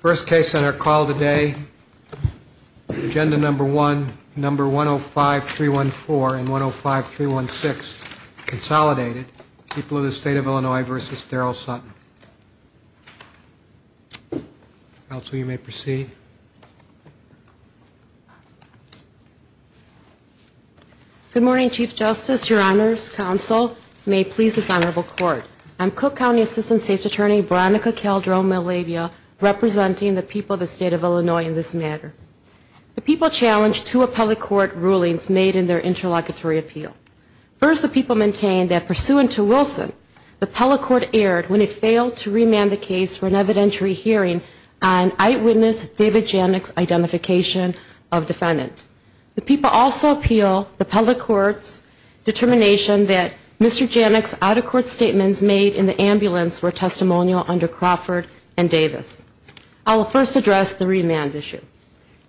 First case on our call today. Agenda number one, number 105-314 and 105-316, Consolidated, People of the State of Illinois v. Daryl Sutton. Counsel, you may proceed. Good morning, Chief Justice, Your Honors, Counsel, and may it please this Honorable Court, I'm Cook County Assistant State's Attorney, Veronica Caldron-Malavia, representing the people of the State of Illinois in this matter. The people challenged two appellate court rulings made in their interlocutory appeal. First, the people maintained that, pursuant to Wilson, the appellate court erred when it failed to remand the case for an evidentiary hearing on eyewitness David Janik's identification of defendant. The people also appeal the appellate court's determination that Mr. Janik's out-of-court statements made in the ambulance were testimonial under Crawford and Davis. I will first address the remand issue.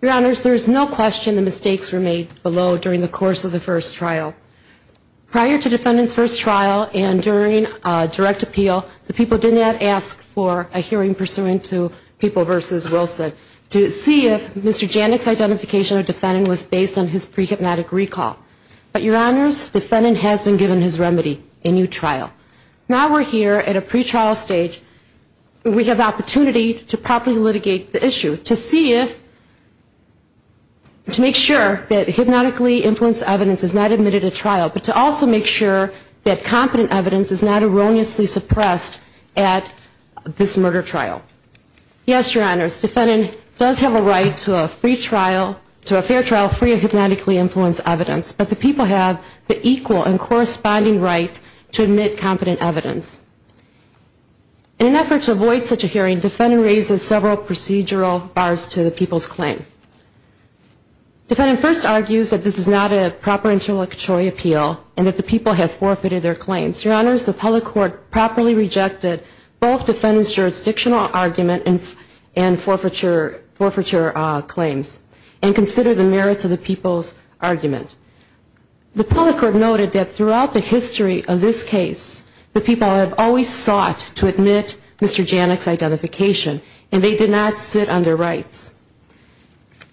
Your Honors, there is no question the mistakes were made below during the course of the first trial. Prior to defendant's first trial and during direct appeal, the people did not ask for a hearing pursuant to People v. Wilson to see if Mr. Janik's identification of defendant was based on his pre-hypnotic recall. But, Your Honors, defendant has been given his remedy, a new trial. Now we're here at a pre-trial stage. We have opportunity to properly litigate the issue, to see if, to make sure that hypnotically influenced evidence is not admitted at trial, but to also make sure that competent evidence is not erroneously suppressed at this murder trial. Yes, Your Honors, defendant does have a right to a free trial, to a fair trial free of hypnotically influenced evidence, but the people have the equal and corresponding right to admit competent evidence. In an effort to avoid such a hearing, defendant raises several procedural bars to the people's claim. Defendant first argues that this is not a proper interlocutory appeal and that the people have forfeited their claims. Your Honors, the public court properly rejected both defendant's jurisdictional argument and forfeiture claims and considered the merits of the people's argument. The public court noted that throughout the history of this case, the people have always sought to admit Mr. Janik's identification, and they did not sit on their rights.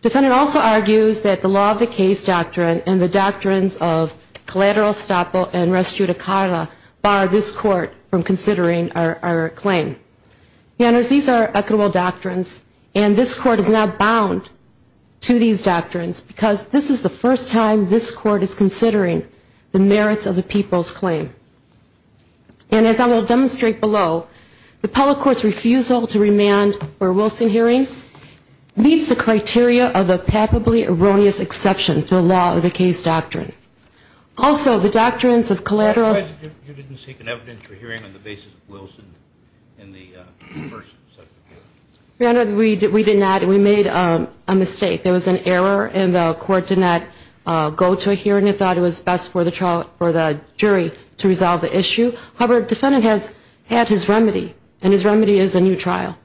Defendant also argues that the law of the case doctrine and the doctrines of collateral estoppel and res judicata bar this court from considering our claim. Your Honors, these are equitable doctrines, and this court is now bound to these doctrines because this is the first time this court is considering the merits of the people's claim. And as I will demonstrate below, the public court's refusal to remand for Wilson hearing meets the criteria of a palpably erroneous exception to the law of the case doctrine. Also, the doctrines of collateral... Your Honor, you didn't seek an evidence for hearing on the basis of Wilson in the first... Your Honor, we did not. We made a mistake. There was an error, and the court did not go to a hearing and thought it was best for the jury to resolve the issue. However, defendant has had his remedy, and his remedy is a new trial.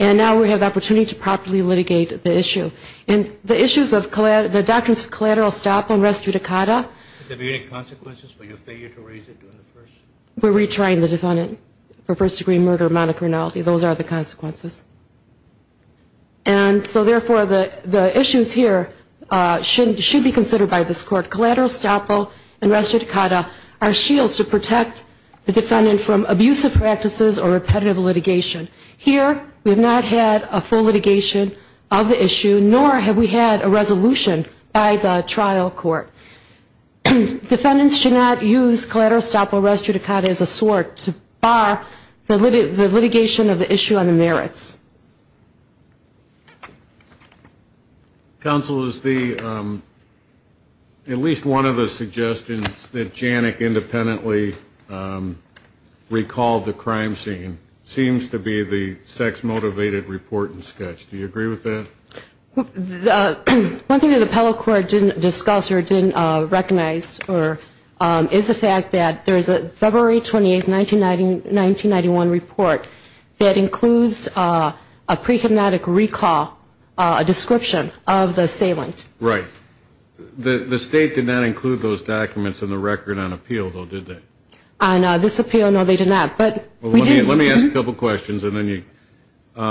And now we have the opportunity to properly litigate the issue. And the issues of the doctrines of collateral estoppel and res judicata... Does this have any consequences for your failure to raise it during the first... We're retrying the defendant for first-degree murder monocriminality. Those are the consequences. And so, therefore, the issues here should be considered by this court. Collateral estoppel and res judicata are shields to protect the defendant from abusive practices or repetitive litigation. Here, we have not had a full litigation of the issue, nor have we had a resolution by the trial court. Defendants should not use collateral estoppel and res judicata as a sword to bar the litigation of the issue on the merits. Counsel, is the... At least one of the suggestions that Janik independently recalled the crime scene seems to be the sex-motivated report and sketch. Do you agree with that? One thing that the appellate court didn't discuss or didn't recognize is the fact that there's a February 28, 1991 report that includes a pre-hypnotic recall, a description of the assailant. Right. The state did not include those documents in the record on appeal, though, did they? On this appeal, no, they did not. Let me ask a couple questions and then you...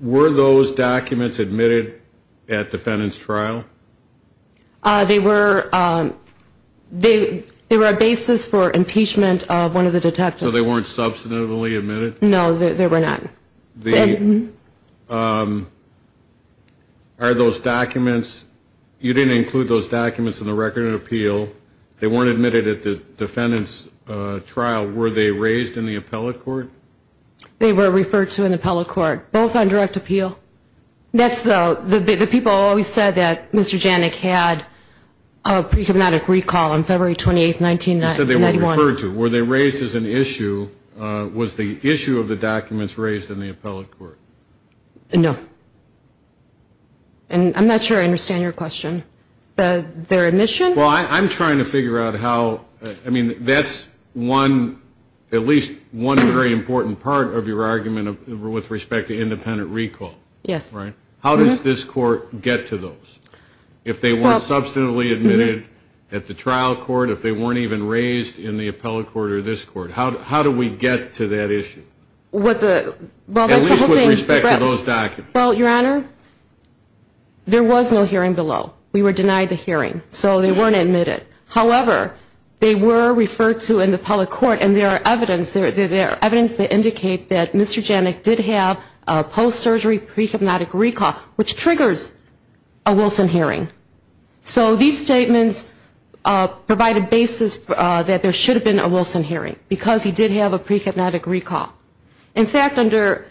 Were those documents admitted at defendant's trial? They were a basis for impeachment of one of the detectives. So they weren't substantively admitted? No, they were not. Are those documents... You didn't include those documents in the record on appeal. They weren't admitted at the defendant's trial. Were they raised in the appellate court? They were referred to in the appellate court, both on direct appeal. The people always said that Mr. Janik had a pre-hypnotic recall on February 28, 1991. You said they were referred to. Were they raised as an issue? Was the issue of the documents raised in the appellate court? No. I'm not sure I understand your question. Their admission? Well, I'm trying to figure out how... I mean, that's at least one very important part of your argument with respect to independent recall. Yes. How does this court get to those? If they weren't substantively admitted at the trial court, if they weren't even raised in the appellate court or this court, how do we get to that issue? At least with respect to those documents. Well, Your Honor, there was no hearing below. We were denied the hearing, so they weren't admitted. However, they were referred to in the appellate court, and there are evidence that indicate that Mr. Janik did have a post-surgery pre-hypnotic recall, which triggers a Wilson hearing. So these statements provide a basis that there should have been a Wilson hearing, because he did have a pre-hypnotic recall. In fact, under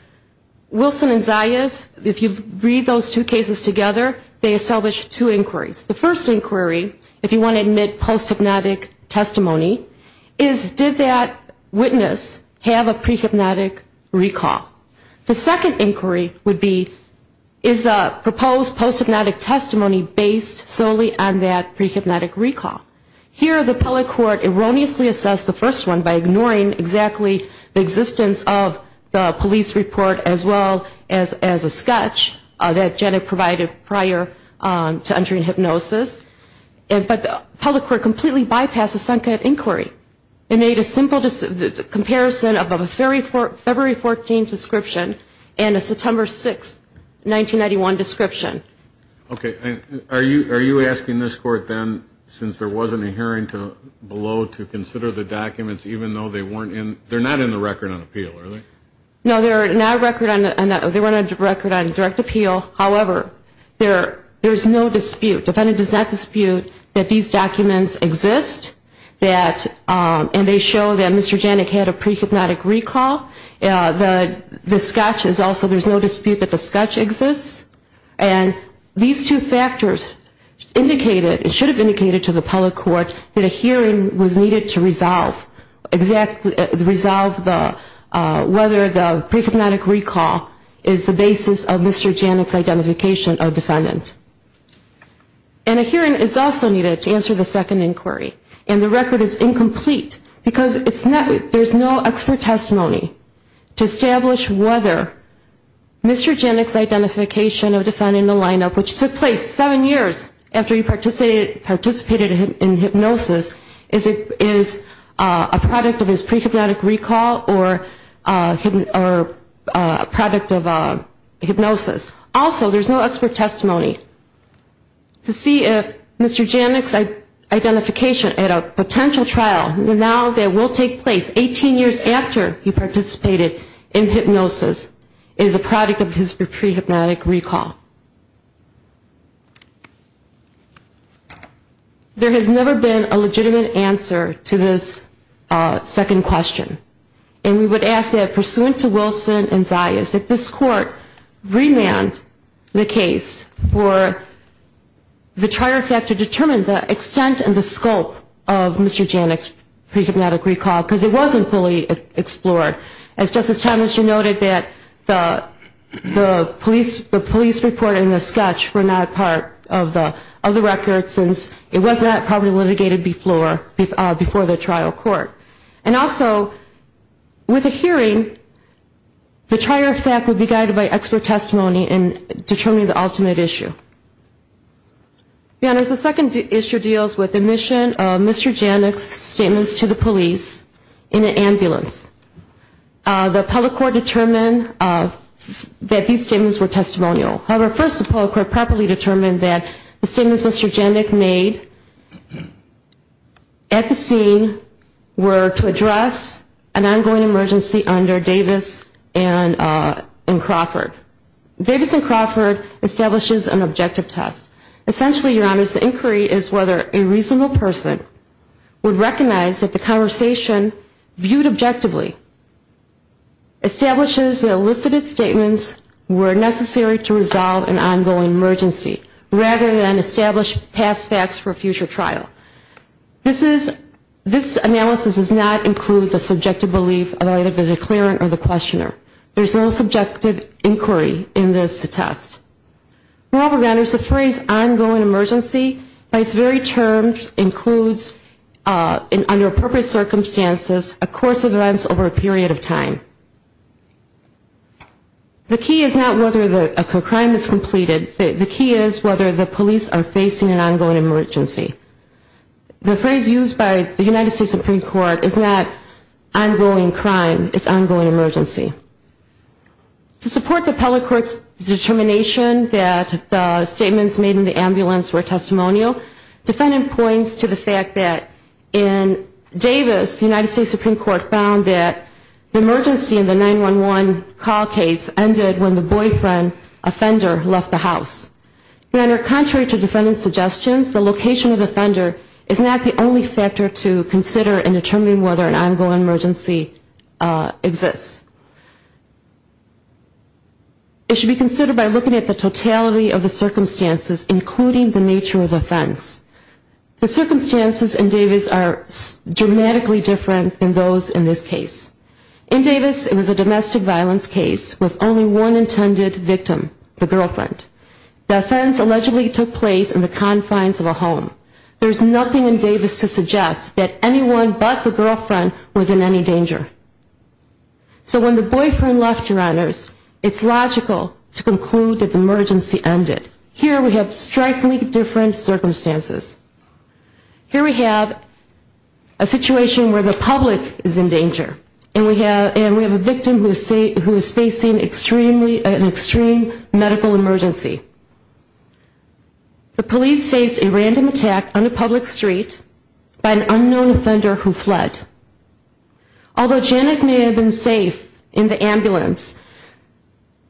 Wilson and Zayas, if you read those two cases together, they establish two inquiries. The first inquiry, if you want to admit post-hypnotic testimony, is did that witness have a pre-hypnotic recall? The second inquiry would be, is the proposed post-hypnotic testimony based solely on that pre-hypnotic recall? Here, the appellate court erroneously assessed the first one by ignoring exactly the existence of the police report as well as a sketch that Janik provided prior to entering hypnosis. But the appellate court completely bypassed the second inquiry and made a simple comparison of a February 14 description and a September 6, 1991 description. Okay, are you asking this court then, since there wasn't a hearing below, to consider the documents even though they weren't in, they're not in the record on appeal, are they? No, they're not a record on, they weren't a record on direct appeal. However, there's no dispute, the defendant does not dispute that these documents exist, and they show that Mr. Janik had a pre-hypnotic recall. The sketch is also, there's no dispute that the sketch exists. And these two factors indicated, it should have indicated to the appellate court, that a hearing was needed to resolve exactly, resolve whether the pre-hypnotic recall is the basis of Mr. Janik's identification of defendant. And a hearing is also needed to answer the second inquiry. And the record is incomplete, because there's no expert testimony to establish whether Mr. Janik's identification of defendant in the lineup, which took place seven years after he participated in hypnosis, is a product of his pre-hypnotic recall or a product of hypnosis. Also, there's no expert testimony to see if Mr. Janik's identification at a potential trial, now that will take place 18 years after he participated in hypnosis, is a product of his pre-hypnotic recall. There has never been a legitimate answer to this second question. And we would ask that, pursuant to Wilson and Zayas, that this court remand the case for the trier effect to determine the extent and the scope of Mr. Janik's pre-hypnotic recall, because it wasn't fully explored. As Justice Thomas, you noted that the police report and the sketch were not part of the record, since it was not probably litigated before the trial court. And also, with a hearing, the trier effect would be guided by expert testimony in determining the ultimate issue. Your Honors, the second issue deals with the admission of Mr. Janik's statements to the police in an ambulance. The appellate court determined that these statements were testimonial. However, first the appellate court properly determined that the statements Mr. Janik made at the scene were to address an ongoing emergency under Davis and Crawford. Davis and Crawford establishes an objective test. Essentially, Your Honors, the inquiry is whether a reasonable person would recognize that the conversation viewed objectively establishes that elicited statements were necessary to resolve an ongoing emergency, rather than establish past facts for a future trial. This analysis does not include the subjective belief of either the declarant or the questioner. There is no subjective inquiry in this test. Moreover, Your Honors, the phrase ongoing emergency, by its very terms, includes, under appropriate circumstances, a course of events over a period of time. The key is not whether a crime is completed. The key is whether the police are facing an ongoing emergency. The phrase used by the United States Supreme Court is not ongoing crime. It's ongoing emergency. To support the appellate court's determination that the statements made in the ambulance were testimonial, the defendant points to the fact that in Davis, the United States Supreme Court found that the emergency in the 911 call case ended when the boyfriend offender left the house. Your Honor, contrary to defendant's suggestions, the location of the offender is not the only factor to consider in determining whether an ongoing emergency exists. It should be considered by looking at the totality of the circumstances, including the nature of the offense. The circumstances in Davis are dramatically different than those in this case. In Davis, it was a domestic violence case with only one intended victim, the girlfriend. The offense allegedly took place in the confines of a home. There's nothing in Davis to suggest that anyone but the girlfriend was in any danger. So when the boyfriend left, Your Honors, it's logical to conclude that the emergency ended. Here we have strikingly different circumstances. Here we have a situation where the public is in danger, and we have a victim who is facing an extreme medical emergency. The police faced a random attack on a public street by an unknown offender who fled. Although Janet may have been safe in the ambulance,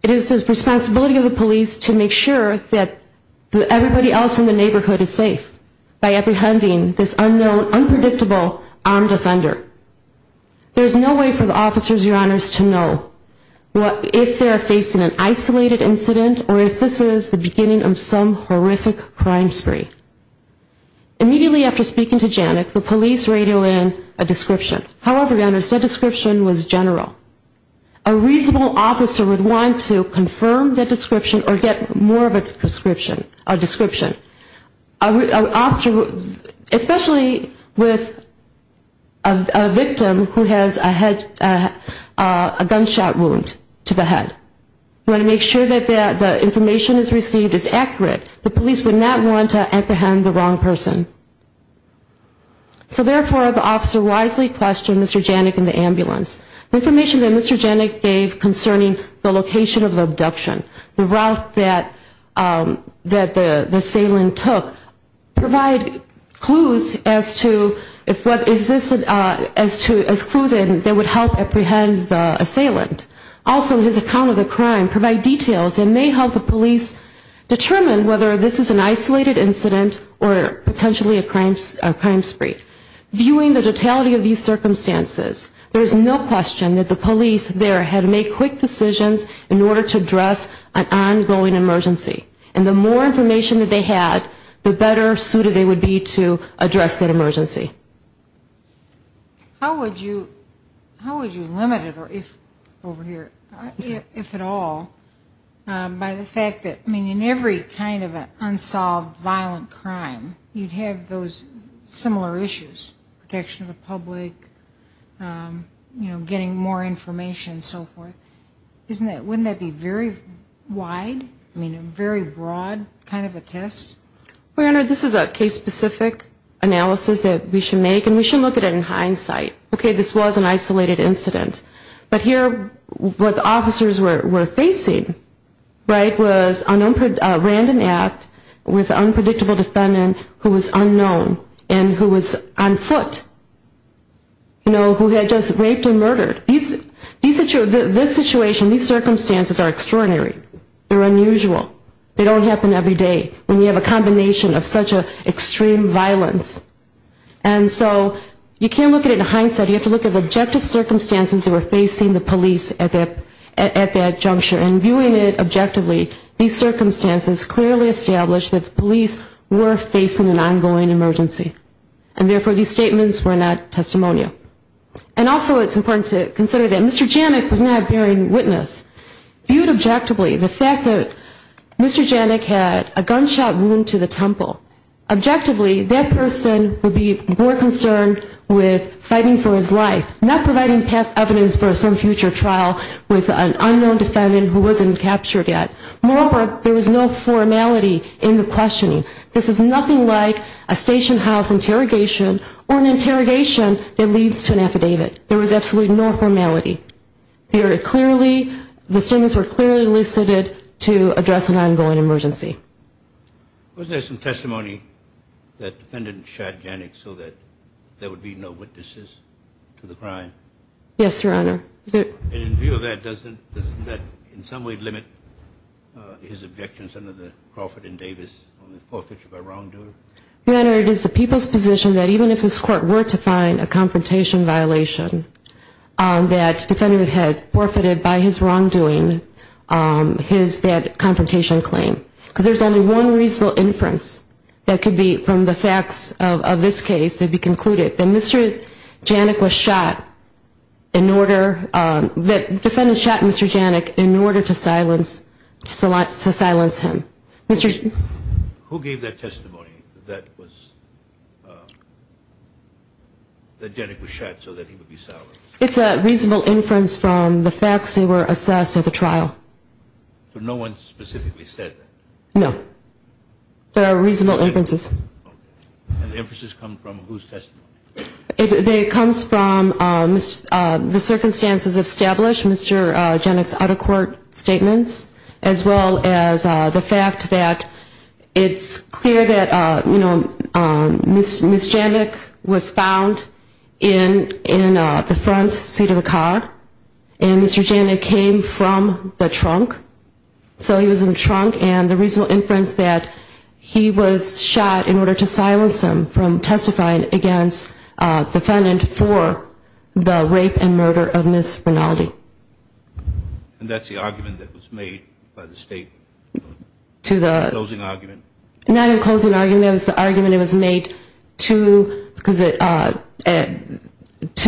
it is the responsibility of the police to make sure that everybody else in the neighborhood is safe by apprehending this unknown, unpredictable armed offender. There's no way for the officers, Your Honors, to know if they are facing an isolated incident or if this is the beginning of some horrific crime spree. Immediately after speaking to Janet, the police radio in a description. However, Your Honors, that description was general. A reasonable officer would want to confirm that description or get more of a description. Especially with a victim who has a gunshot wound to the head. You want to make sure that the information is received is accurate. The police would not want to apprehend the wrong person. So therefore, the officer wisely questioned Mr. Janik in the ambulance. The information that Mr. Janik gave concerning the location of the abduction, the route that the assailant took, provide clues as to what is this, as clues that would help apprehend the assailant. Also, his account of the crime provide details and may help the police determine whether this is an isolated incident or potentially a crime spree. Viewing the totality of these circumstances, there is no question that the police there had to make quick decisions in order to address an ongoing emergency. And the more information that they had, the better suited they would be to address that emergency. How would you limit it, if at all, by the fact that in every kind of unsolved violent crime, you'd have those similar issues, protection of the public, you know, getting more information and so forth. Wouldn't that be very wide, I mean a very broad kind of a test? Well, this is a case specific analysis that we should make and we should look at it in hindsight. Okay, this was an isolated incident, but here what the officers were facing, right, was a random act with an unpredictable defendant who was unknown and who was on foot. You know, who had just raped and murdered. This situation, these circumstances are extraordinary, they're unusual. They don't happen every day when you have a combination of such extreme violence. And so you can't look at it in hindsight, you have to look at the objective circumstances that were facing the police at that juncture. And viewing it objectively, these circumstances clearly established that the police were facing an ongoing emergency. And therefore these statements were not testimonial. And also it's important to consider that Mr. Janik was not a bearing witness. Viewed objectively, the fact that Mr. Janik had a gunshot wound to the temple, objectively that person would be more concerned with fighting for his life, not providing past evidence for some future trial with an unknown defendant who wasn't captured yet. Moreover, there was no formality in the questioning. This is nothing like a station house interrogation or an interrogation that leads to an affidavit. There was absolutely no formality. Very clearly, the statements were clearly elicited to address an ongoing emergency. Was there some testimony that the defendant shot Janik so that there would be no witnesses to the crime? Yes, Your Honor. And in view of that, doesn't that in some way limit his objections under the Crawford and Davis on the forfeiture by wrongdoer? Your Honor, it is the people's position that even if this court were to find a confrontation violation, that the defendant had forfeited by his wrongdoing that confrontation claim. Because there's only one reasonable inference that could be from the facts of this case that would be concluded that the defendant shot Mr. Janik in order to silence him. Who gave that testimony that Janik was shot so that he would be silenced? It's a reasonable inference from the facts that were assessed at the trial. So no one specifically said that? No. There are reasonable inferences. And the inferences come from whose testimony? It comes from the circumstances established, Mr. Janik's out-of-court statements, as well as the fact that it's clear that, you know, Ms. Janik was found in the front seat of the car, and Mr. Janik came from the trunk. So he was in the trunk, and the reasonable inference that he was shot in order to silence him from testifying against the defendant for the rape and murder of Ms. Rinaldi. And that's the argument that was made by the State in the closing argument? Not in the closing argument. It was the argument that was made to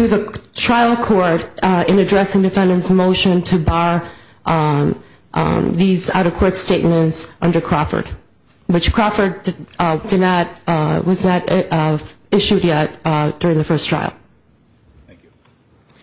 the trial court in addressing the defendant's motion to bar these out-of-court statements under Crawford, which Crawford was not issued yet during the first trial.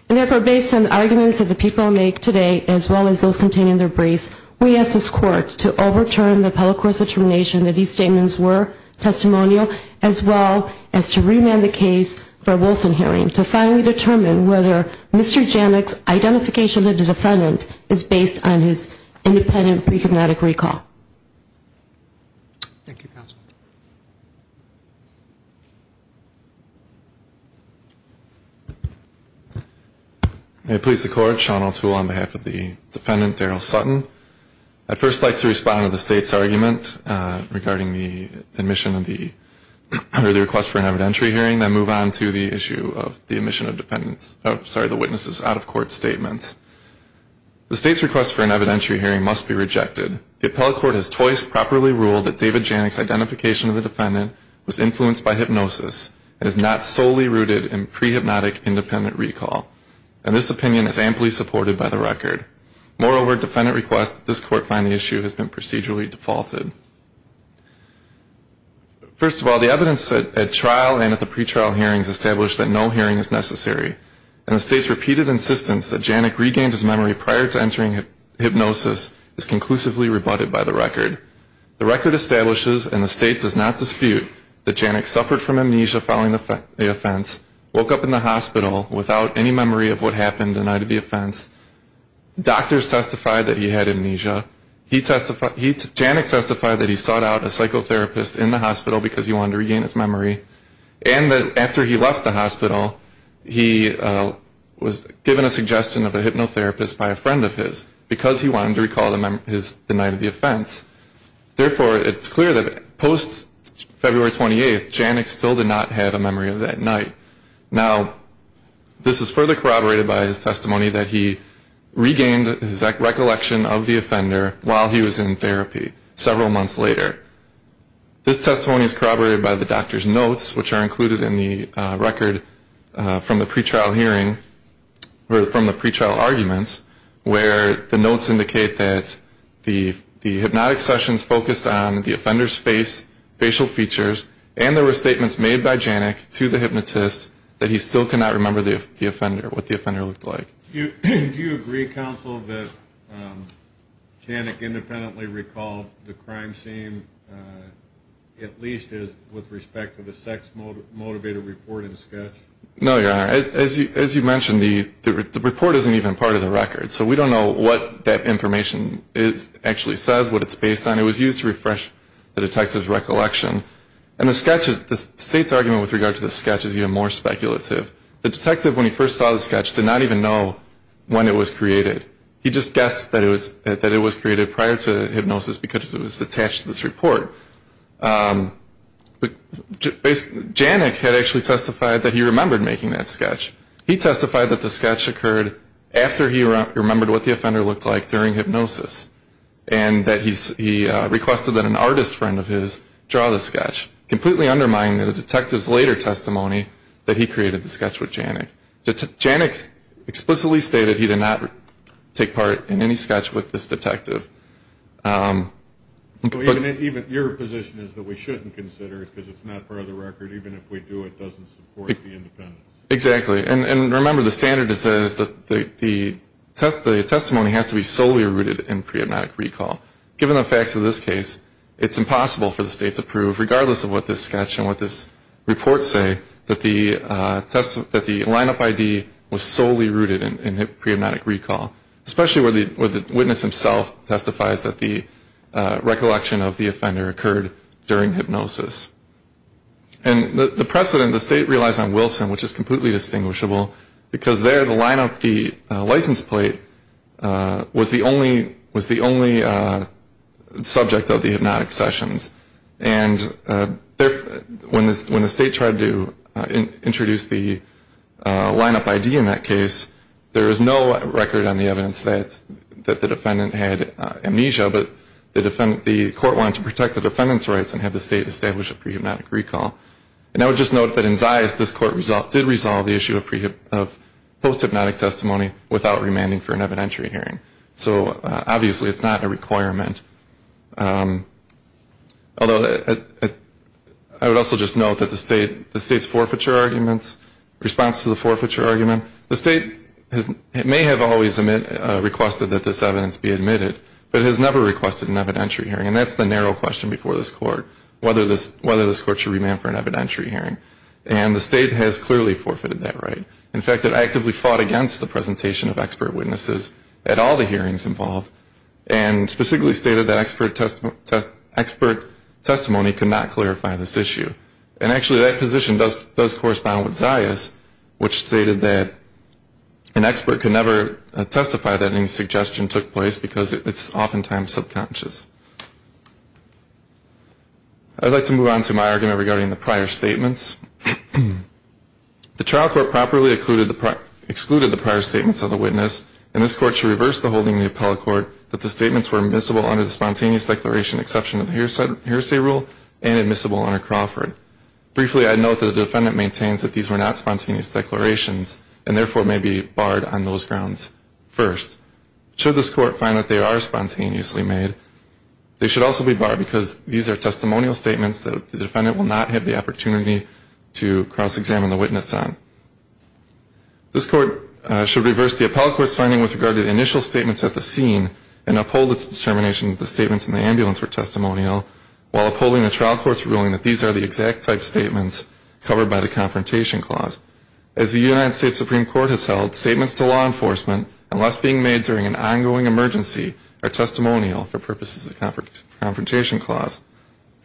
And therefore, based on the arguments that the people make today, as well as those contained in their briefs, we ask this Court to overturn the public court's determination that these statements were testimonial, as well as to remand the case for a Wilson hearing to finally determine whether Mr. Janik's identification of the defendant is based on his independent pre-cognitive recall. Thank you, Counsel. May it please the Court, Sean O'Toole on behalf of the defendant, Daryl Sutton. I'd first like to respond to the State's argument regarding the admission of the, or the request for an evidentiary hearing, then move on to the issue of the admission of the witness's out-of-court statements. The State's request for an evidentiary hearing must be rejected. The appellate court has twice properly ruled that David Janik's identification of the defendant was influenced by hypnosis and is not solely rooted in pre-hypnotic independent recall, and this opinion is amply supported by the record. Moreover, defendant requests that this Court find the issue has been procedurally defaulted. First of all, the evidence at trial and at the pretrial hearings established that no hearing is necessary, and the State's repeated insistence that Janik regained his memory prior to entering hypnosis is conclusively rebutted by the record. The record establishes, and the State does not dispute, that Janik suffered from amnesia following the offense, woke up in the hospital without any memory of what happened the night of the offense. Doctors testified that he had amnesia. Janik testified that he sought out a psychotherapist in the hospital because he wanted to regain his memory, and that after he left the hospital, he was given a suggestion of a hypnotherapist by a friend of his because he wanted to recall the night of the offense. Therefore, it's clear that post-February 28th, Janik still did not have a memory of that night. Now, this is further corroborated by his testimony that he regained his recollection of the offender, while he was in therapy, several months later. This testimony is corroborated by the doctor's notes, which are included in the record from the pretrial hearing, or from the pretrial arguments, where the notes indicate that the hypnotic sessions focused on the offender's face, facial features, and there were statements made by Janik to the hypnotist that he still could not remember the offender, what the offender looked like. Do you agree, counsel, that Janik independently recalled the crime scene, at least with respect to the sex-motivated reporting sketch? No, Your Honor. As you mentioned, the report isn't even part of the record, so we don't know what that information actually says, what it's based on. It was used to refresh the detective's recollection. And the state's argument with regard to the sketch is even more speculative. The detective, when he first saw the sketch, did not even know when it was created. He just guessed that it was created prior to hypnosis because it was attached to this report. But Janik had actually testified that he remembered making that sketch. He testified that the sketch occurred after he remembered what the offender looked like during hypnosis, and that he requested that an artist friend of his draw the sketch, completely undermining the detective's later testimony that he created the sketch with Janik. Janik explicitly stated he did not take part in any sketch with this detective. Even your position is that we shouldn't consider it because it's not part of the record. Even if we do, it doesn't support the independence. Exactly. And remember, the standard is that the testimony has to be solely rooted in pre-hypnotic recall. Given the facts of this case, it's impossible for the state to prove, regardless of what this sketch and what this report say, that the lineup ID was solely rooted in pre-hypnotic recall, especially where the witness himself testifies that the recollection of the offender occurred during hypnosis. And the precedent the state relies on Wilson, which is completely distinguishable, because there the lineup, the license plate, was the only subject of the hypnotic sessions. And when the state tried to introduce the lineup ID in that case, there is no record on the evidence that the defendant had amnesia, but the court wanted to protect the defendant's rights and have the state establish a pre-hypnotic recall. And I would just note that in Zayas this court did resolve the issue of post-hypnotic testimony without remanding for an evidentiary hearing. So obviously it's not a requirement. Although I would also just note that the state's forfeiture argument, response to the forfeiture argument, the state may have always requested that this evidence be admitted, but has never requested an evidentiary hearing. And that's the narrow question before this court, whether this court should remand for an evidentiary hearing. And the state has clearly forfeited that right. In fact, it actively fought against the presentation of expert witnesses at all the hearings involved and specifically stated that expert testimony could not clarify this issue. And actually that position does correspond with Zayas, which stated that an expert could never testify that any suggestion took place because it's oftentimes subconscious. I'd like to move on to my argument regarding the prior statements. The trial court properly excluded the prior statements of the witness, and this court should reverse the holding in the appellate court that the statements were admissible under the spontaneous declaration exception of the hearsay rule and admissible under Crawford. Briefly, I'd note that the defendant maintains that these were not spontaneous declarations and therefore may be barred on those grounds first. Should this court find that they are spontaneously made, they should also be barred because these are testimonial statements that the defendant will not have the opportunity to cross-examine the witness on. This court should reverse the appellate court's finding with regard to the initial statements at the scene and uphold its determination that the statements in the ambulance were testimonial while upholding the trial court's ruling that these are the exact type statements covered by the confrontation clause. As the United States Supreme Court has held, statements to law enforcement unless being made during an ongoing emergency are testimonial for purposes of the confrontation clause.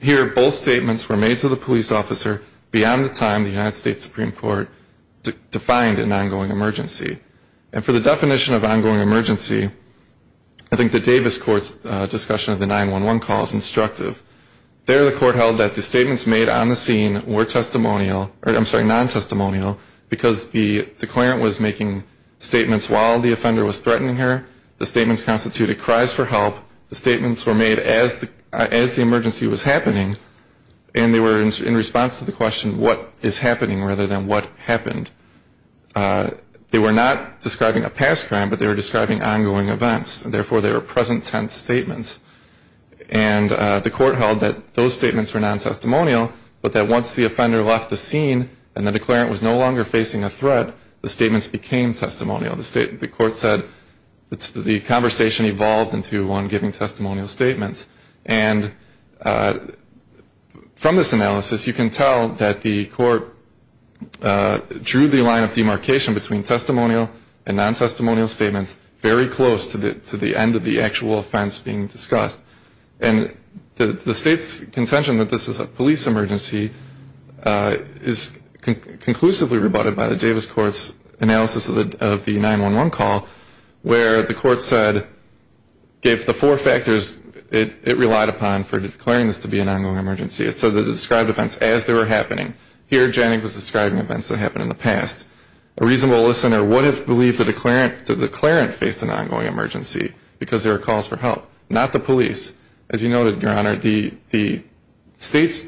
Here, both statements were made to the police officer beyond the time the United States Supreme Court defined an ongoing emergency. And for the definition of ongoing emergency, I think the Davis court's discussion of the 911 call is instructive. There, the court held that the statements made on the scene were testimonial or, I'm sorry, non-testimonial because the clarent was making statements while the offender was threatening her. The statements constituted cries for help. The statements were made as the emergency was happening, and they were in response to the question what is happening rather than what happened. They were not describing a past crime, but they were describing ongoing events, and therefore they were present tense statements. And the court held that those statements were non-testimonial, but that once the offender left the scene and the declarant was no longer facing a threat, the statements became testimonial. The court said the conversation evolved into one giving testimonial statements. And from this analysis, you can tell that the court drew the line of demarcation between testimonial and non-testimonial statements very close to the end of the actual offense being discussed. And the state's contention that this is a police emergency is conclusively rebutted by the Davis court's analysis of the 911 call, where the court said, gave the four factors it relied upon for declaring this to be an ongoing emergency. It said it described events as they were happening. Here, Janik was describing events that happened in the past. A reasonable listener would have believed the declarant faced an ongoing emergency because there were calls for help, not the police. As you noted, Your Honor, the state's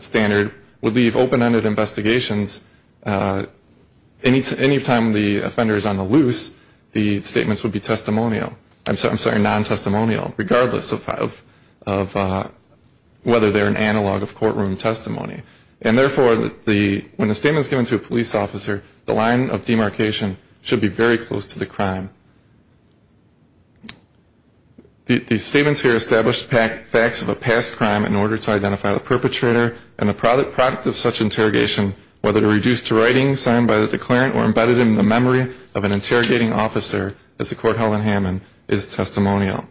standard would leave open-ended investigations. Any time the offender is on the loose, the statements would be testimonial. I'm sorry, non-testimonial, regardless of whether they're an analog of courtroom testimony. And therefore, when a statement is given to a police officer, the line of demarcation should be very close to the crime. The statements here established facts of a past crime in order to identify the perpetrator and the product of such interrogation, whether they're reduced to writing signed by the declarant or embedded in the memory of an interrogating officer, as the court held in Hammond, is testimonial.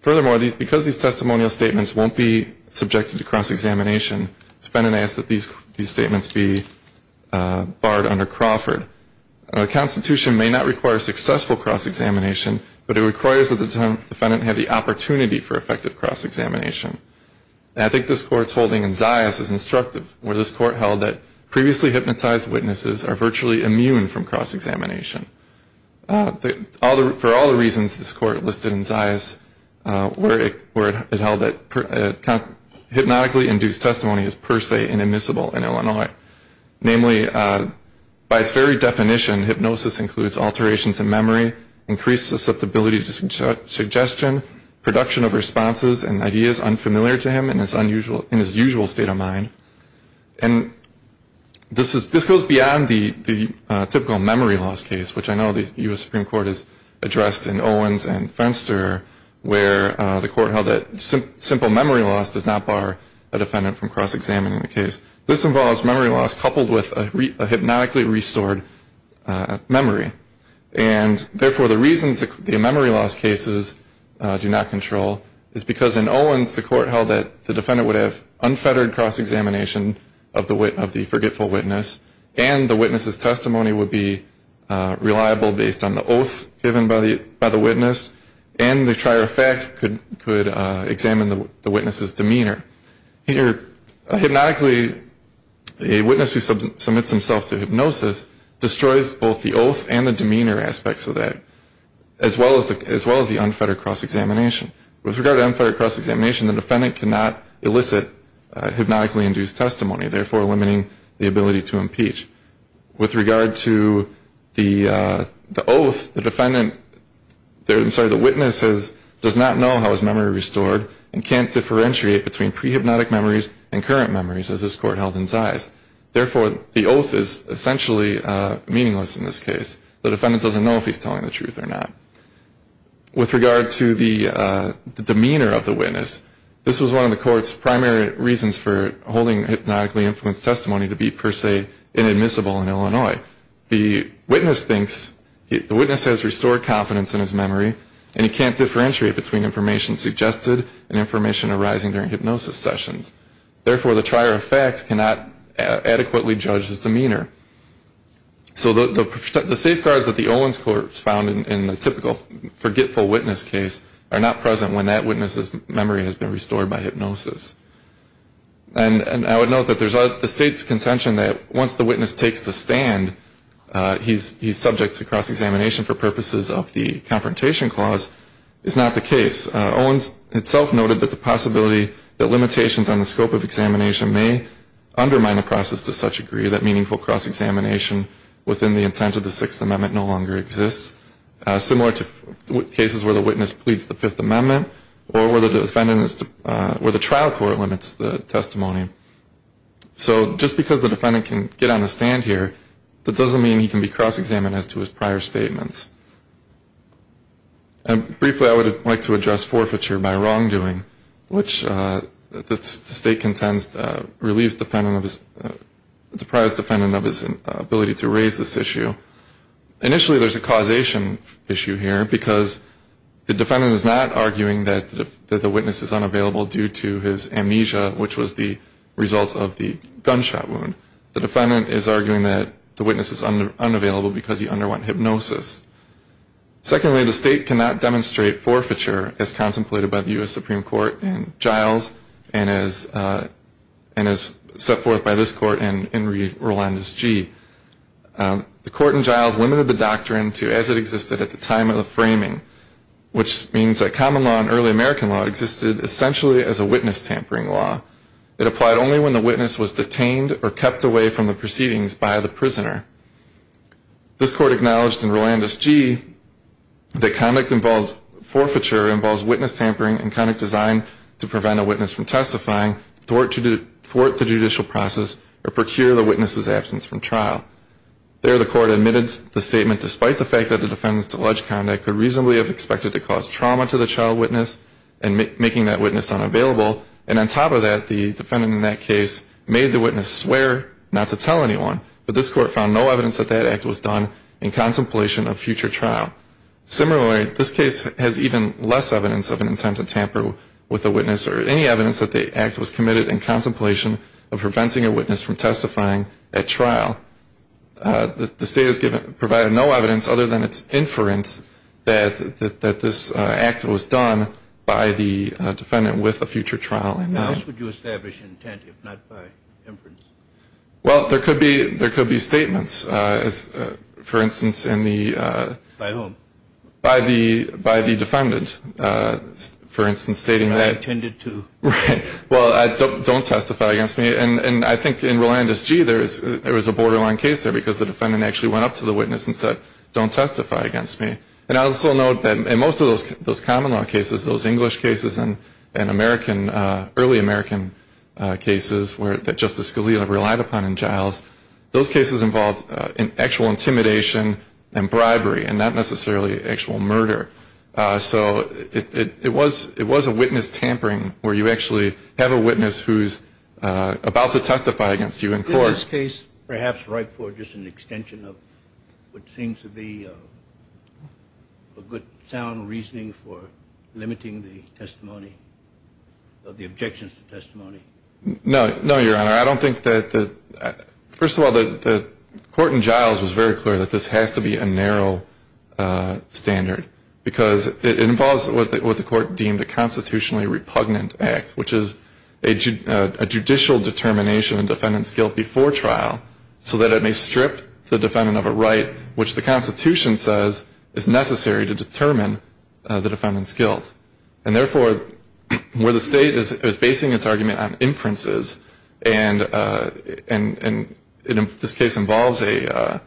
Furthermore, because these testimonial statements won't be subjected to cross-examination, the defendant asks that these statements be barred under Crawford. A constitution may not require successful cross-examination, but it requires that the defendant have the opportunity for effective cross-examination. And I think this Court's holding in Zayas is instructive, where this Court held that previously hypnotized witnesses are virtually immune from cross-examination. For all the reasons this Court listed in Zayas, where it held that hypnotically induced testimony is per se inadmissible in Illinois. Namely, by its very definition, hypnosis includes alterations in memory, increased susceptibility to suggestion, production of responses and ideas unfamiliar to him in his usual state of mind. And this goes beyond the typical memory loss case, which I know the U.S. Supreme Court has addressed in Owens and Fenster, where the Court held that simple memory loss does not bar a defendant from cross-examining the case. This involves memory loss coupled with a hypnotically restored memory. And therefore, the reasons the memory loss cases do not control is because in Owens, the Court held that the defendant would have unfettered cross-examination of the forgetful witness, and the witness's testimony would be reliable based on the oath given by the witness, and the trier of fact could examine the witness's demeanor. Here, hypnotically, a witness who submits himself to hypnosis destroys both the oath and the demeanor aspects of that, as well as the unfettered cross-examination. With regard to unfettered cross-examination, the defendant cannot elicit hypnotically induced testimony, therefore limiting the ability to impeach. With regard to the oath, the witness does not know how his memory is restored and can't differentiate between pre-hypnotic memories and current memories, as this Court held in Zais. Therefore, the oath is essentially meaningless in this case. The defendant doesn't know if he's telling the truth or not. With regard to the demeanor of the witness, this was one of the Court's primary reasons for holding hypnotically influenced testimony to be, per se, inadmissible in Illinois. The witness thinks the witness has restored confidence in his memory, and he can't differentiate between information suggested and information arising during hypnosis sessions. Therefore, the trier of fact cannot adequately judge his demeanor. So the safeguards that the Owens Court found in the typical forgetful witness case are not present when that witness's memory has been restored by hypnosis. And I would note that there's the State's contention that once the witness takes the stand, he's subject to cross-examination for purposes of the Confrontation Clause. It's not the case. Owens himself noted that the possibility that limitations on the scope of examination may undermine the process to such a degree that meaningful cross-examination within the intent of the Sixth Amendment no longer exists, similar to cases where the witness pleads the Fifth Amendment or where the trial court limits the testimony. So just because the defendant can get on the stand here, that doesn't mean he can be cross-examined as to his prior statements. Briefly, I would like to address forfeiture by wrongdoing, which the State contends relieves the prior defendant of his ability to raise this issue. Initially, there's a causation issue here, because the defendant is not arguing that the witness is unavailable due to his amnesia, which was the result of the gunshot wound. The defendant is arguing that the witness is unavailable because he underwent hypnosis. Secondly, the State cannot demonstrate forfeiture, as contemplated by the U.S. Supreme Court in Giles and as set forth by this Court in Rolandus G. The Court in Giles limited the doctrine to as it existed at the time of the framing, which means that common law and early American law existed essentially as a witness tampering law. It applied only when the witness was detained or kept away from the proceedings by the prisoner. This Court acknowledged in Rolandus G. that conduct involved forfeiture involves witness tampering and conduct designed to prevent a witness from testifying, thwart the judicial process, or procure the witness's absence from trial. There, the Court admitted the statement, despite the fact that the defendant's alleged conduct could reasonably have expected to cause trauma to the child witness and making that witness unavailable. And on top of that, the defendant in that case made the witness swear not to tell anyone, but this Court found no evidence that that act was done in contemplation of future trial. Similarly, this case has even less evidence of an attempt to tamper with a witness or any evidence that the act was committed in contemplation of preventing a witness from testifying at trial. The State has provided no evidence, other than its inference, that this act was done by the defendant with a future trial in mind. How else would you establish an intent, if not by inference? Well, there could be statements. For instance, in the... By whom? By the defendant. For instance, stating that... I intended to. Right. Well, don't testify against me. And I think in Rolandus G., there was a borderline case there, because the defendant actually went up to the witness and said, don't testify against me. And I'll also note that in most of those common law cases, those English cases and early American cases that Justice Scalia relied upon in trials, those cases involved actual intimidation and bribery, and not necessarily actual murder. So it was a witness tampering where you actually have a witness who's about to testify against you in court. In this case, perhaps right for just an extension of what seems to be a good, sound reasoning for limiting the testimony, the objections to testimony. No, Your Honor. I don't think that the... Because it involves what the court deemed a constitutionally repugnant act, which is a judicial determination of defendant's guilt before trial, so that it may strip the defendant of a right, which the Constitution says is necessary to determine the defendant's guilt. And therefore, where the state is basing its argument on inferences, and this case involves the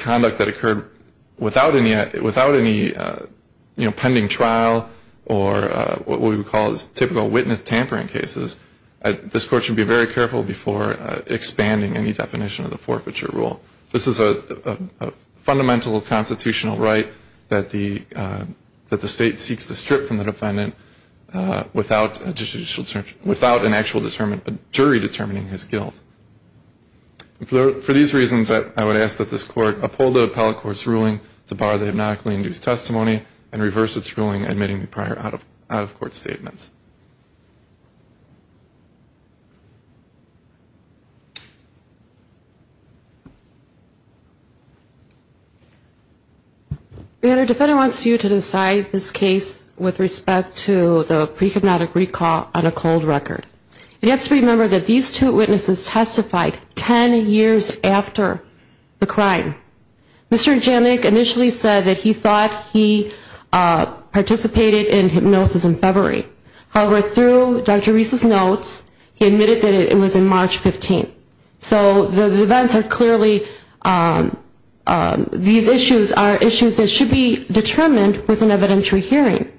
conduct that occurred without any pending trial, or what we would call typical witness tampering cases, this court should be very careful before expanding any definition of the forfeiture rule. This is a fundamental constitutional right that the state seeks to strip from the defendant without an actual jury determining his guilt. For these reasons, I would ask that this court uphold the appellate court's ruling to bar the obnoxiously induced testimony, and reverse its ruling admitting the prior out-of-court statements. Your Honor, the defendant wants you to decide this case with respect to the pre-hypnotic recall on a cold record. He has to remember that these two witnesses testified 10 years after the crime. Mr. Janik initially said that he thought he participated in hypnosis in February, however, through Dr. Reese's notes, he admitted that it was in March 15th. So the events are clearly, these issues are issues that should be determined with an evidentiary hearing.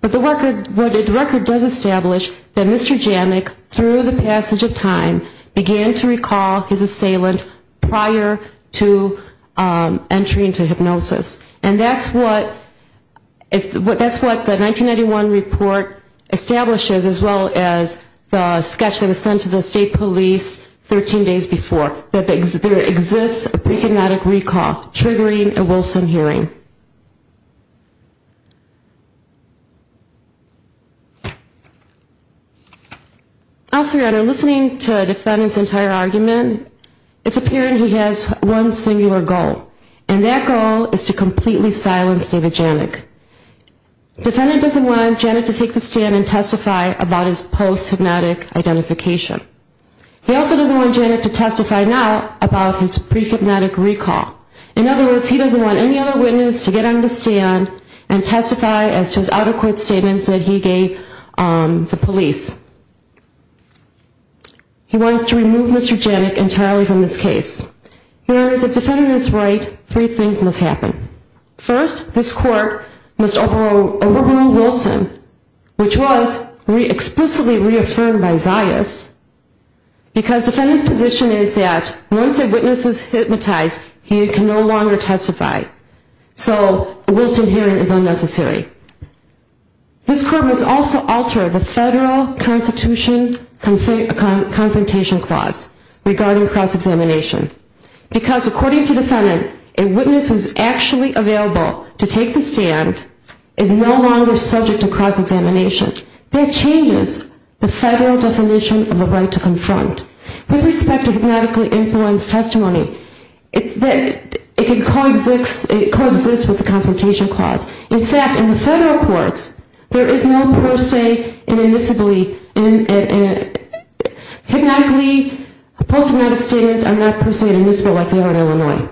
But the record does establish that Mr. Janik, through the passage of time, began to recall his assailant prior to entry into hypnosis. And that's what the 1991 report establishes, as well as the sketch that was sent to the state police 13 days before, that there exists a pre-hypnotic recall triggering a Wilson hearing. Also, Your Honor, listening to the defendant's entire argument, it's apparent he has one singular goal. And that goal is to completely silence David Janik. Defendant doesn't want Janik to take the stand and testify about his post-hypnotic identification. He also doesn't want Janik to testify now about his pre-hypnotic recall. In other words, he doesn't want any other witness to get on the stand and testify as to his out-of-court statements that he gave the police. He wants to remove Mr. Janik entirely from this case. Your Honor, if the defendant is right, three things must happen. First, this court must overrule Wilson, which was explicitly reaffirmed by Zayas, because the defendant's position is that once a witness is hypnotized, he can no longer testify. So a Wilson hearing is unnecessary. This court must also alter the Federal Constitution Confrontation Clause regarding cross-examination, because according to the defendant, a witness who is actually available to take the stand is no longer subject to cross-examination. That changes the Federal definition of the right to confront. With respect to hypnotically influenced testimony, it coexists with the Confrontation Clause. In fact, in the Federal courts, there is no per se inadmissibility. Hypnotically, post-hypnotic statements are not per se inadmissible like they are in Illinois.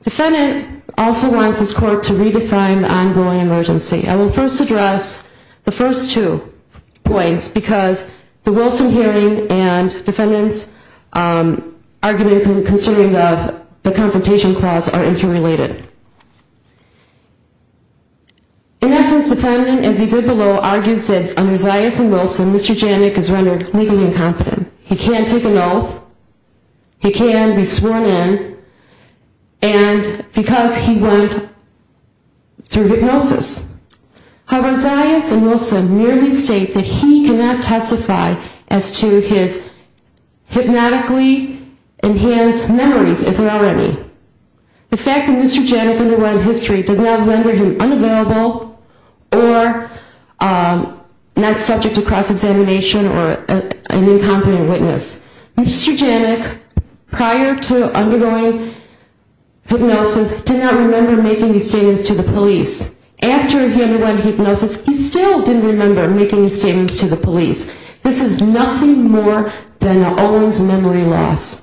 The defendant also wants this court to redefine the ongoing emergency. I will first address the first two points, because the Wilson hearing and the defendant's argument concerning the Confrontation Clause are interrelated. In essence, the defendant, as he did below, argues that under Zayas and Wilson, Mr. Janik is rendered legally incompetent. He can't take an oath, he can't be sworn in, and because he went through hypnosis. However, Zayas and Wilson merely state that he cannot testify as to his hypnotically enhanced memories, if there are any. The fact that Mr. Janik underwent history does not render him unavailable or not subject to cross-examination or an incompetent witness. Mr. Janik, prior to undergoing hypnosis, did not remember making these statements to the police. After he underwent hypnosis, he still didn't remember making these statements to the police. This is nothing more than an always memory loss.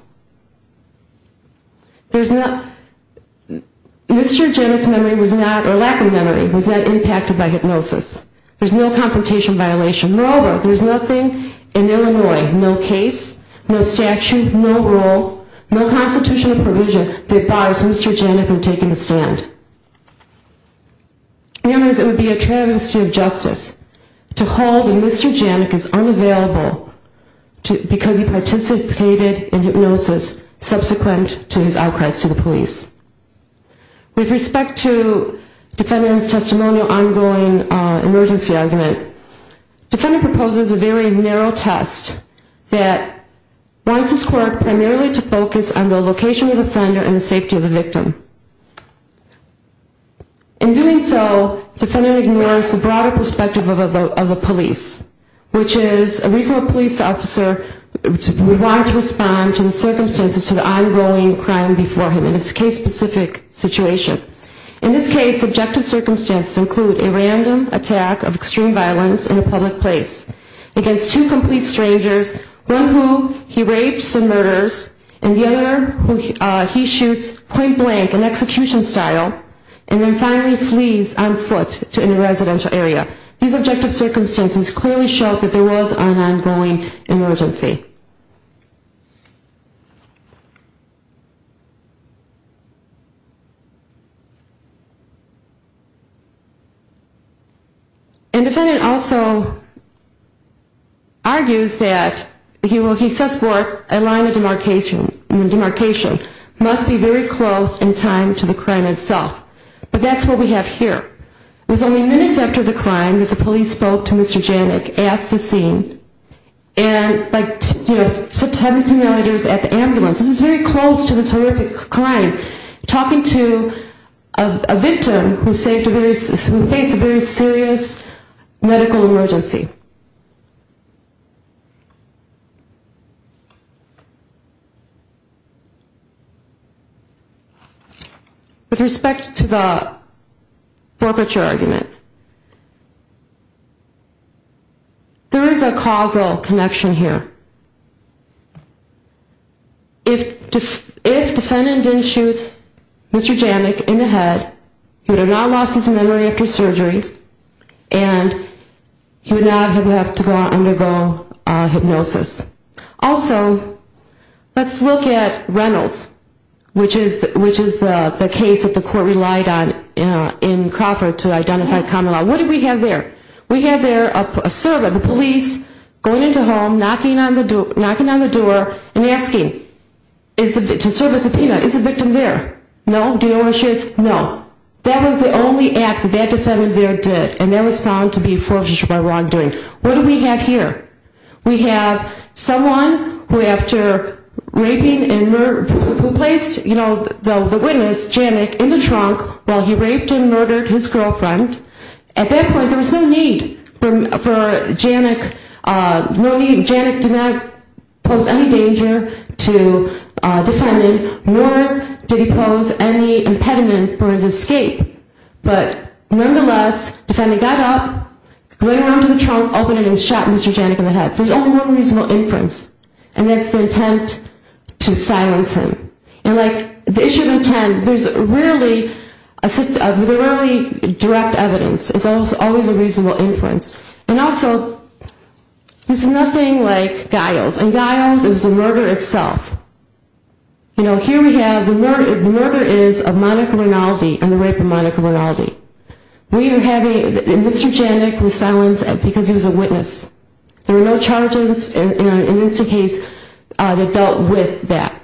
Mr. Janik's memory was not, or lack of memory, was not impacted by hypnosis. There is no confrontation violation. Moreover, there is nothing in Illinois, no case, no statute, no rule, no constitutional provision, that bars Mr. Janik from taking a stand. In other words, it would be a travesty of justice to hold that Mr. Janik is unavailable because he participated in hypnosis subsequent to his outcries to the police. With respect to defendant's testimonial ongoing emergency argument, defendant proposes a very narrow test that wants this court primarily to focus on the location of the offender and the safety of the victim. In doing so, defendant ignores the broader perspective of a police, which is a reasonable police officer would want to respond to the circumstances to the ongoing crime before him in this case-specific situation. In this case, subjective circumstances include a random attack of extreme violence in a public place against two complete strangers, one who he rapes and murders and the other who he shoots point-blank in execution style and then finally flees on foot in a residential area. These objective circumstances clearly show that there was an ongoing emergency. And defendant also argues that he says a line of demarcation must be very close in time to the crime itself. But that's what we have here. It was only minutes after the crime that the police spoke to Mr. Janik at the scene and like 17 yarders at the ambulance. This is very close to this horrific crime. Talking to a victim who faced a very serious medical emergency. With respect to the forfeiture argument, there is a causal connection here. If defendant didn't shoot Mr. Janik in the head, he would have now lost his memory after surgery and he would not have had to undergo hypnosis. Also, let's look at Reynolds, which is the case that the court relied on in Crawford to identify common law. What do we have there? We have there a servant, the police, going into a home, knocking on the door and asking to serve a subpoena. Is the victim there? No. Do you know where she is? No. That was the only act that defendant there did and that was found to be forfeiture by wrongdoing. What do we have here? We have someone who after raping and murder, who placed the witness, Janik, in the trunk while he raped and murdered his girlfriend. At that point, there was no need for Janik, Janik did not pose any danger to defendant nor did he pose any impediment for his escape. But nonetheless, defendant got up, went around to the trunk, opened it and shot Mr. Janik in the head. There's only one reasonable inference and that's the intent to silence him. The issue of intent, there's rarely direct evidence. It's always a reasonable inference. And also, there's nothing like Giles. And Giles is the murder itself. Here we have, the murder is of Monica Rinaldi and the rape of Monica Rinaldi. Mr. Janik was silenced because he was a witness. There were no charges in this case that dealt with that,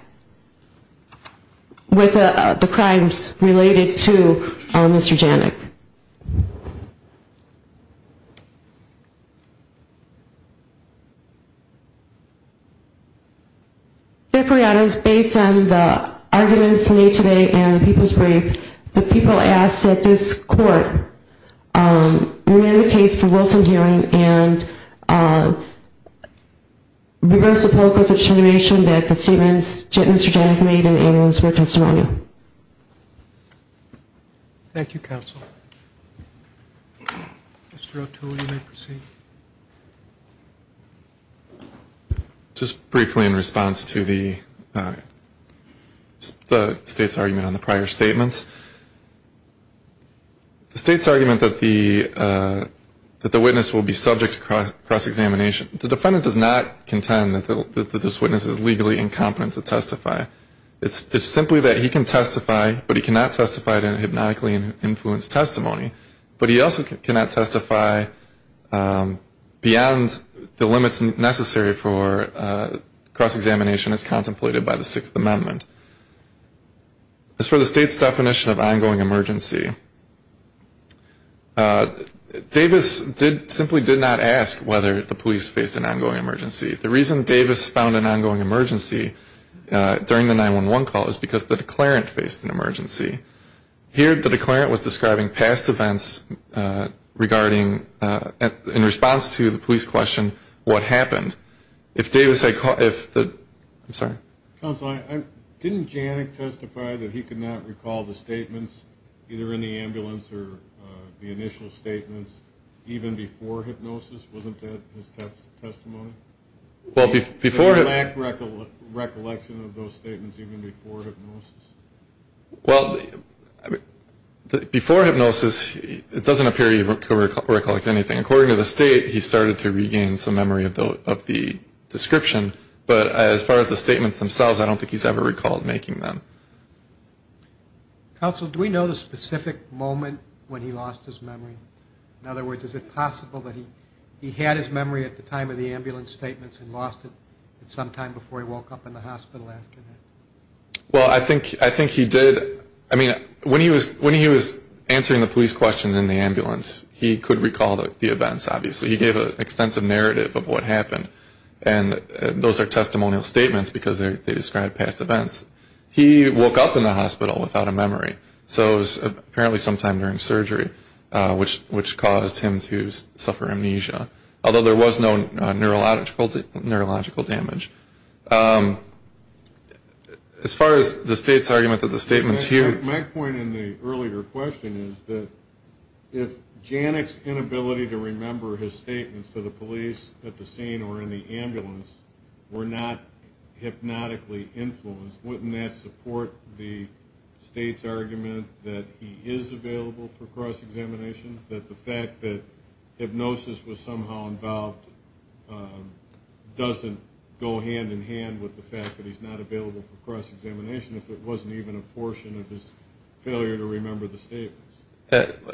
with the crimes related to Mr. Janik. Deperiatos, based on the arguments made today and the people's brief, the people asked that this court remand the case for Wilson hearing and reverse the political determination that the statements Mr. Janik made in the annuals were testimonial. Thank you, counsel. Mr. O'Toole, you may proceed. Just briefly in response to the state's argument on the prior statements, the state's argument that the witness will be subject to cross-examination, the defendant does not contend that this witness is legally incompetent to testify. It's simply that he can testify, but he cannot testify in a hypnotically influenced testimony. But he also cannot testify beyond the limits necessary for cross-examination as contemplated by the Sixth Amendment. As for the state's definition of ongoing emergency, Davis simply did not ask whether the police faced an ongoing emergency. The reason Davis found an ongoing emergency during the 911 call is because the declarant faced an emergency. Here the declarant was describing past events regarding, in response to the police question, what happened. I'm sorry. Counsel, didn't Janik testify that he could not recall the statements, either in the ambulance or the initial statements, even before hypnosis? Wasn't that his testimony? Did he lack recollection of those statements even before hypnosis? Well, before hypnosis it doesn't appear he recollected anything. According to the state, he started to regain some memory of the description. But as far as the statements themselves, I don't think he's ever recalled making them. Counsel, do we know the specific moment when he lost his memory? In other words, is it possible that he had his memory at the time of the ambulance statements and lost it sometime before he woke up in the hospital after that? Well, I think he did. I mean, when he was answering the police questions in the ambulance, he could recall the events, obviously. He gave an extensive narrative of what happened. And those are testimonial statements because they describe past events. He woke up in the hospital without a memory. So it was apparently sometime during surgery, which caused him to suffer amnesia, although there was no neurological damage. As far as the state's argument that the statements here. My point in the earlier question is that if Janik's inability to remember his statements to the police at the scene or in the ambulance were not hypnotically influenced, wouldn't that support the state's argument that he is available for cross-examination, that the fact that hypnosis was somehow involved doesn't go hand-in-hand with the fact that he's not available for cross-examination if it wasn't even a portion of his failure to remember the statements?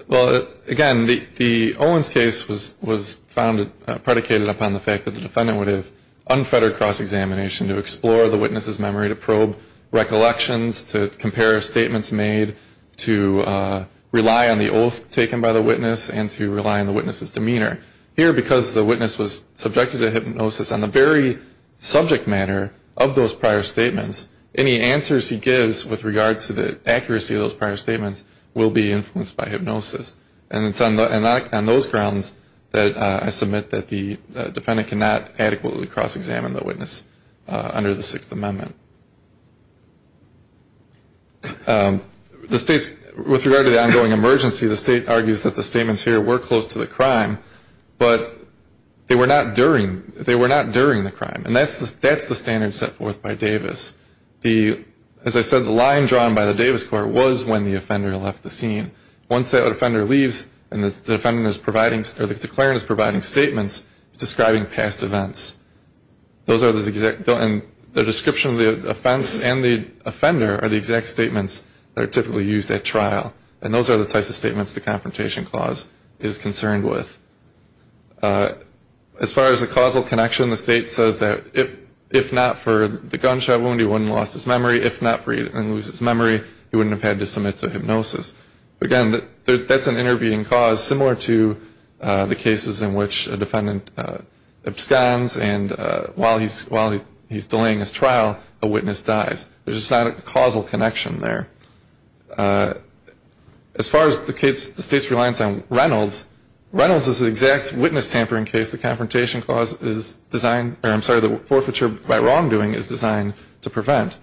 Well, again, the Owens case was predicated upon the fact that the defendant would have unfettered cross-examination to explore the witness's memory, to probe recollections, to compare statements made, to rely on the oath taken by the witness, and to rely on the witness's demeanor. Here, because the witness was subjected to hypnosis on the very subject matter of those prior statements, any answers he gives with regard to the accuracy of those prior statements will be influenced by hypnosis. And it's on those grounds that I submit that the defendant cannot adequately cross-examine the witness under the Sixth Amendment. With regard to the ongoing emergency, the state argues that the statements here were close to the crime, but they were not during the crime. And that's the standard set forth by Davis. As I said, the line drawn by the Davis court was when the offender left the scene. Once that offender leaves and the declarant is providing statements, it's describing past events. And the description of the offense and the offender are the exact statements that are typically used at trial. And those are the types of statements the Confrontation Clause is concerned with. As far as the causal connection, the state says that if not for the gunshot wound, he wouldn't have lost his memory. If not for it and lose his memory, he wouldn't have had to submit to hypnosis. Again, that's an intervening cause, similar to the cases in which a defendant absconds and while he's delaying his trial, a witness dies. There's just not a causal connection there. As far as the state's reliance on Reynolds, Reynolds is an exact witness tampering case the Confrontation Clause is designed or I'm sorry, the forfeiture by wrongdoing is designed to prevent.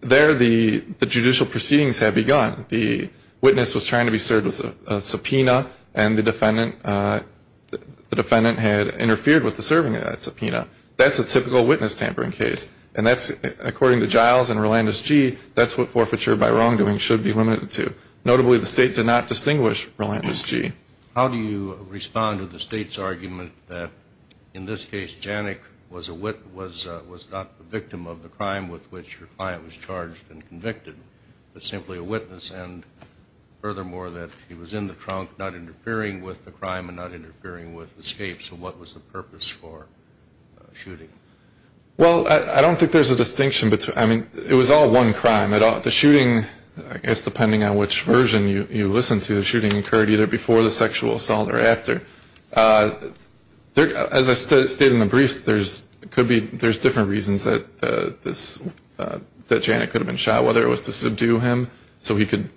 There the judicial proceedings have begun. The witness was trying to be served with a subpoena and the defendant had interfered with the serving of that subpoena. That's a typical witness tampering case. And that's according to Giles and Rolandus-G, that's what forfeiture by wrongdoing should be limited to. Notably, the state did not distinguish Rolandus-G. How do you respond to the state's argument that in this case, Janik was not the victim of the crime with which your client was charged and convicted, but simply a witness and furthermore that he was in the trunk, not interfering with the crime and not interfering with escape. So what was the purpose for shooting? Well, I don't think there's a distinction. I mean, it was all one crime. The shooting, I guess depending on which version you listen to, the shooting occurred either before the sexual assault or after. As I stated in the briefs, there's different reasons that Janik could have been shot, whether it was to subdue him so he could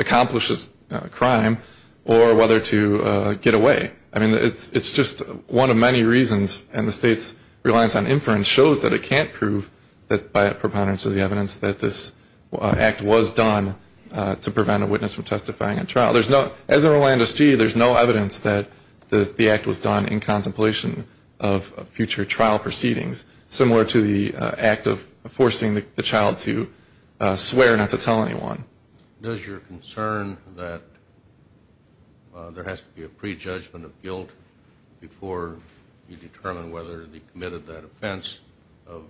accomplish his crime or whether to get away. I mean, it's just one of many reasons, and the state's reliance on inference shows that it can't prove that by a preponderance of the evidence that this act was done to prevent a witness from testifying at trial. As in Rolandus-G, there's no evidence that the act was done in contemplation of future trial proceedings, similar to the act of forcing the child to swear not to tell anyone. Does your concern that there has to be a prejudgment of guilt before you determine whether they committed that offense of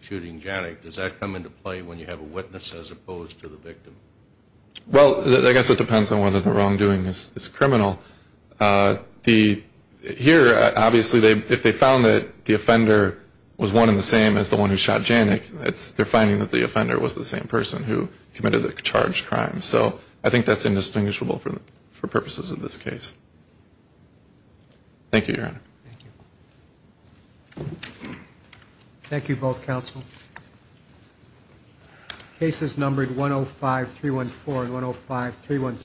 shooting Janik, does that come into play when you have a witness as opposed to the victim? Well, I guess it depends on whether the wrongdoing is criminal. Here, obviously, if they found that the offender was one and the same as the one who shot Janik, they're finding that the offender was the same person who committed the charged crime. So I think that's indistinguishable for purposes of this case. Thank you, Your Honor. Thank you. Thank you both, counsel. Cases numbered 105-314 and 105-317.